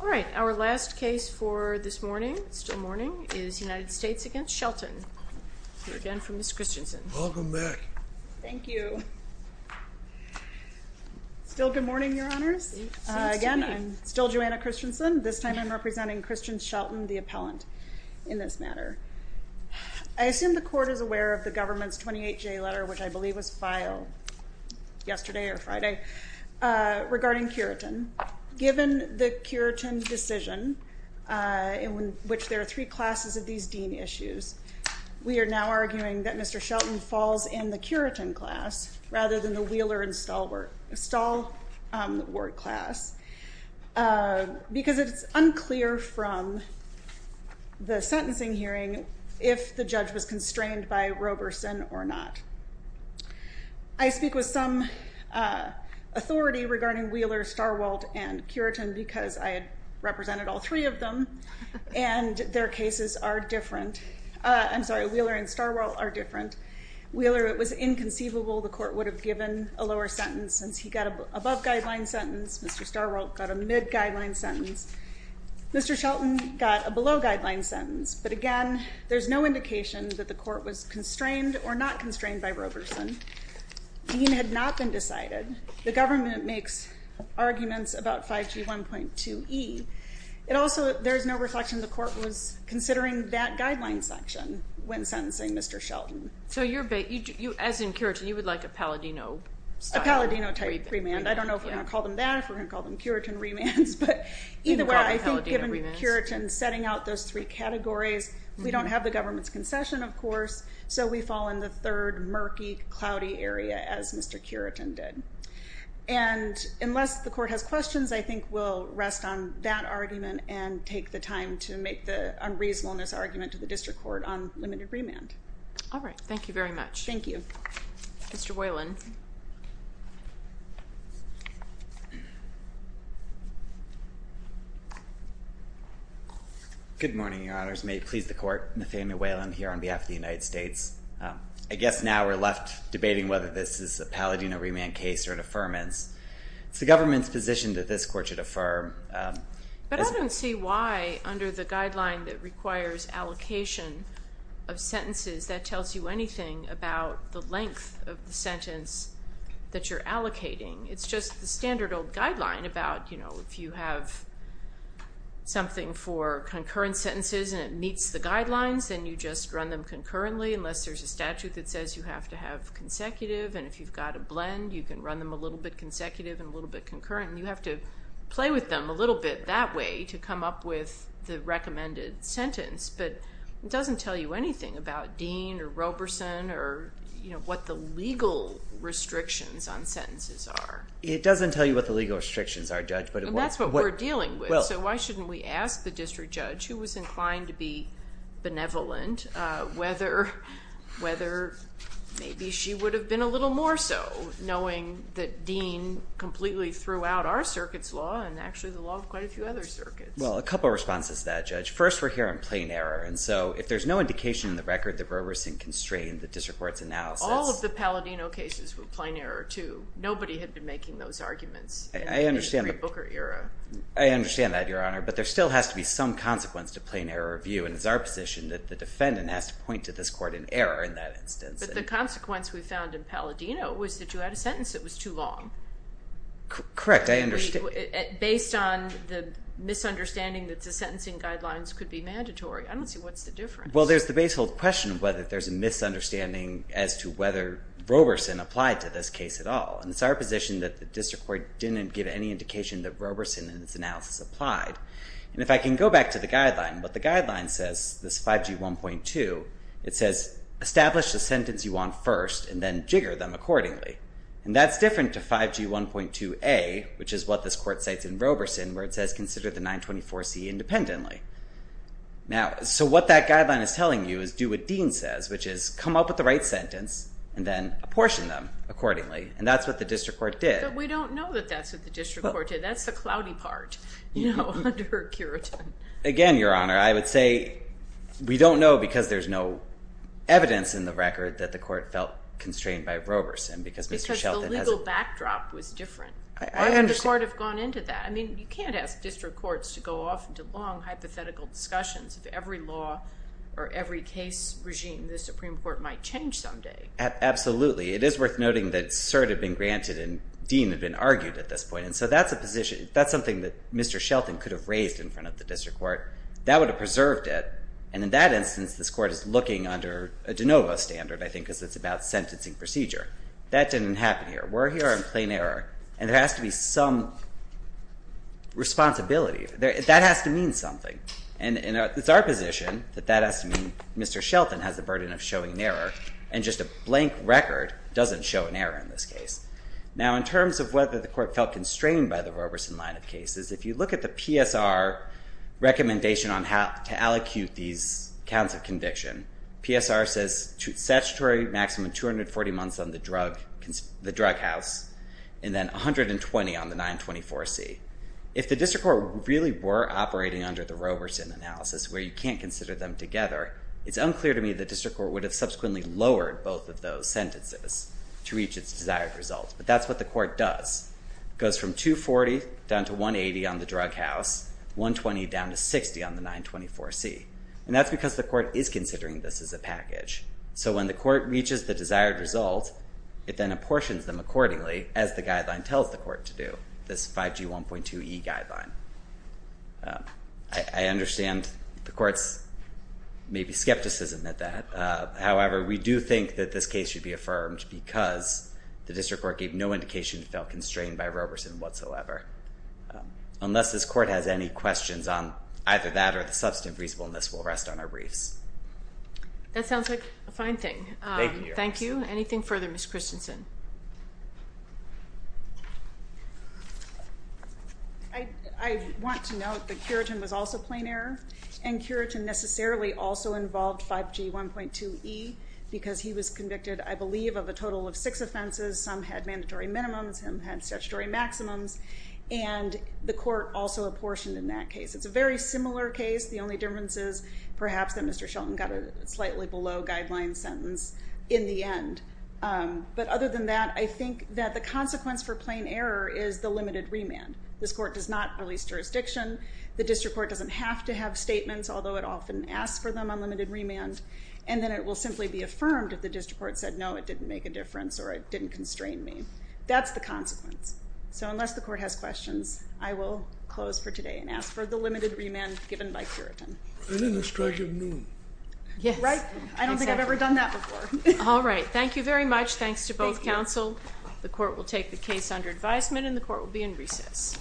All right, our last case for this morning, still morning, is United States v. Shelton. We're again for Ms. Christensen. Welcome back. Thank you. Still good morning, Your Honors. Seems to be. Again, I'm still Joanna Christensen. This time I'm representing Christian Shelton, the appellant, in this matter. I assume the court is aware of the government's 28-J letter, which I believe was filed yesterday or Friday, regarding Curitin. Given the Curitin decision, in which there are three classes of these dean issues, we are now arguing that Mr. Shelton falls in the Curitin class rather than the Wheeler and Stahl Ward class, because it's unclear from the sentencing hearing if the judge was constrained by Roberson or not. I speak with some authority regarding Wheeler, Starwalt, and Curitin, because I had represented all three of them, and their cases are different. I'm sorry, Wheeler and Starwalt are different. Wheeler, it was inconceivable. The court would have given a lower sentence, since he got an above-guideline sentence. Mr. Starwalt got a mid-guideline sentence. Mr. Shelton got a below-guideline sentence. But again, there's no indication that the court was constrained or not constrained by Roberson. Dean had not been decided. The government makes arguments about 5G 1.2e. It also, there's no reflection the court was considering that guideline section when sentencing Mr. Shelton. So, you're, as in Curitin, you would like a Palladino style? A Palladino type remand. I don't know if we're going to call them that, if we're going to call them Curitin remands, but either way, I think given Curitin setting out those three categories, we don't have the government's concession, of course, so we fall in the third murky, cloudy area as Mr. Curitin did. And unless the court has questions, I think we'll rest on that argument and take the time to make the unreasonableness argument to the district court on limited remand. All right. Thank you very much. Thank you. Mr. Whalen. Good morning, Your Honors. May it please the court, Nathanael Whalen here on behalf of the United States. I guess now we're left debating whether this is a Palladino remand case or an affirmance. It's the government's position that this court should affirm. But I don't see why, under the guideline that requires allocation of sentences, that tells you anything about the length of the sentence that you're allocating. It's just the standard old guideline about, you know, if you have something for concurrent sentences and it meets the guidelines, then you just run them concurrently, unless there's a statute that says you have to have consecutive, and if you've got a blend, you can run them a little bit consecutive and a little bit concurrent, and you have to play with them a little bit that way to come up with the recommended sentence. But it doesn't tell you anything about Dean or Roberson or, you know, what the legal restrictions on sentences are. It doesn't tell you what the legal restrictions are, Judge, but it would. And that's what we're dealing with. Well. So why shouldn't we ask the district judge, who was inclined to be benevolent, whether maybe she would have been a little more so, knowing that Dean completely threw out our Well, a couple of responses to that, Judge. First, we're hearing plain error, and so if there's no indication in the record that Roberson constrained the district court's analysis. All of the Palladino cases were plain error, too. Nobody had been making those arguments in the pre-Booker era. I understand that, Your Honor, but there still has to be some consequence to plain error review, and it's our position that the defendant has to point to this court in error in that instance. But the consequence we found in Palladino was that you had a sentence that was too long. Correct. I understand. Based on the misunderstanding that the sentencing guidelines could be mandatory, I don't see what's the difference. Well, there's the basehold question of whether there's a misunderstanding as to whether Roberson applied to this case at all, and it's our position that the district court didn't give any indication that Roberson in its analysis applied. And if I can go back to the guideline, what the guideline says, this 5G 1.2, it says establish the sentence you want first, and then jigger them accordingly. And that's different to 5G 1.2a, which is what this court cites in Roberson, where it says consider the 924C independently. So what that guideline is telling you is do what Dean says, which is come up with the right sentence, and then apportion them accordingly. And that's what the district court did. We don't know that that's what the district court did. That's the cloudy part, you know, under a curator. Again, Your Honor, I would say we don't know because there's no evidence in the record that the court felt constrained by Roberson because Mr. Shelton has a... Because the legal backdrop was different. I understand. Why would the court have gone into that? I mean, you can't ask district courts to go off into long hypothetical discussions of every law or every case regime the Supreme Court might change someday. Absolutely. It is worth noting that cert had been granted and Dean had been argued at this point. And so that's a position, that's something that Mr. Shelton could have raised in front of the district court. That would have preserved it. And in that instance, this court is looking under a de novo standard, I think, because it's about sentencing procedure. That didn't happen here. We're here on plain error, and there has to be some responsibility. That has to mean something. And it's our position that that has to mean Mr. Shelton has a burden of showing an error, and just a blank record doesn't show an error in this case. Now in terms of whether the court felt constrained by the Roberson line of cases, if you look at the PSR recommendation on how to allocute these counts of conviction, PSR says statutory maximum 240 months on the drug house, and then 120 on the 924C. If the district court really were operating under the Roberson analysis, where you can't consider them together, it's unclear to me the district court would have subsequently lowered both of those sentences to reach its desired results, but that's what the court does. It goes from 240 down to 180 on the drug house, 120 down to 60 on the 924C. And that's because the court is considering this as a package. So when the court reaches the desired result, it then apportions them accordingly, as the guideline tells the court to do, this 5G 1.2E guideline. I understand the court's maybe skepticism at that. However, we do think that this case should be affirmed because the district court gave no indication it felt constrained by Roberson whatsoever. Unless this court has any questions on either that or the substantive reasonableness, we'll rest on our briefs. That sounds like a fine thing. Thank you. Thank you. Anything further, Ms. Christensen? I want to note that Curitin was also plain error, and Curitin necessarily also involved 5G 1.2E because he was convicted, I believe, of a total of six offenses. Some had mandatory minimums, some had statutory maximums, and the court also apportioned in that case. It's a very similar case. The only difference is perhaps that Mr. Shelton got a slightly below guideline sentence in the end. But other than that, I think that the consequence for plain error is the limited remand. This court does not release jurisdiction. The district court doesn't have to have statements, although it often asks for them on limited remand, and then it will simply be affirmed if the district court said, no, it didn't make a difference or it didn't constrain me. That's the consequence. So unless the court has questions, I will close for today and ask for the limited remand given by Curitin. And in the strike of noon. Yes. Right? I don't think I've ever done that before. All right. Thank you very much. Thanks to both counsel. Thank you. The court will take the case under advisement, and the court will be in recess. Thank you. Thank you.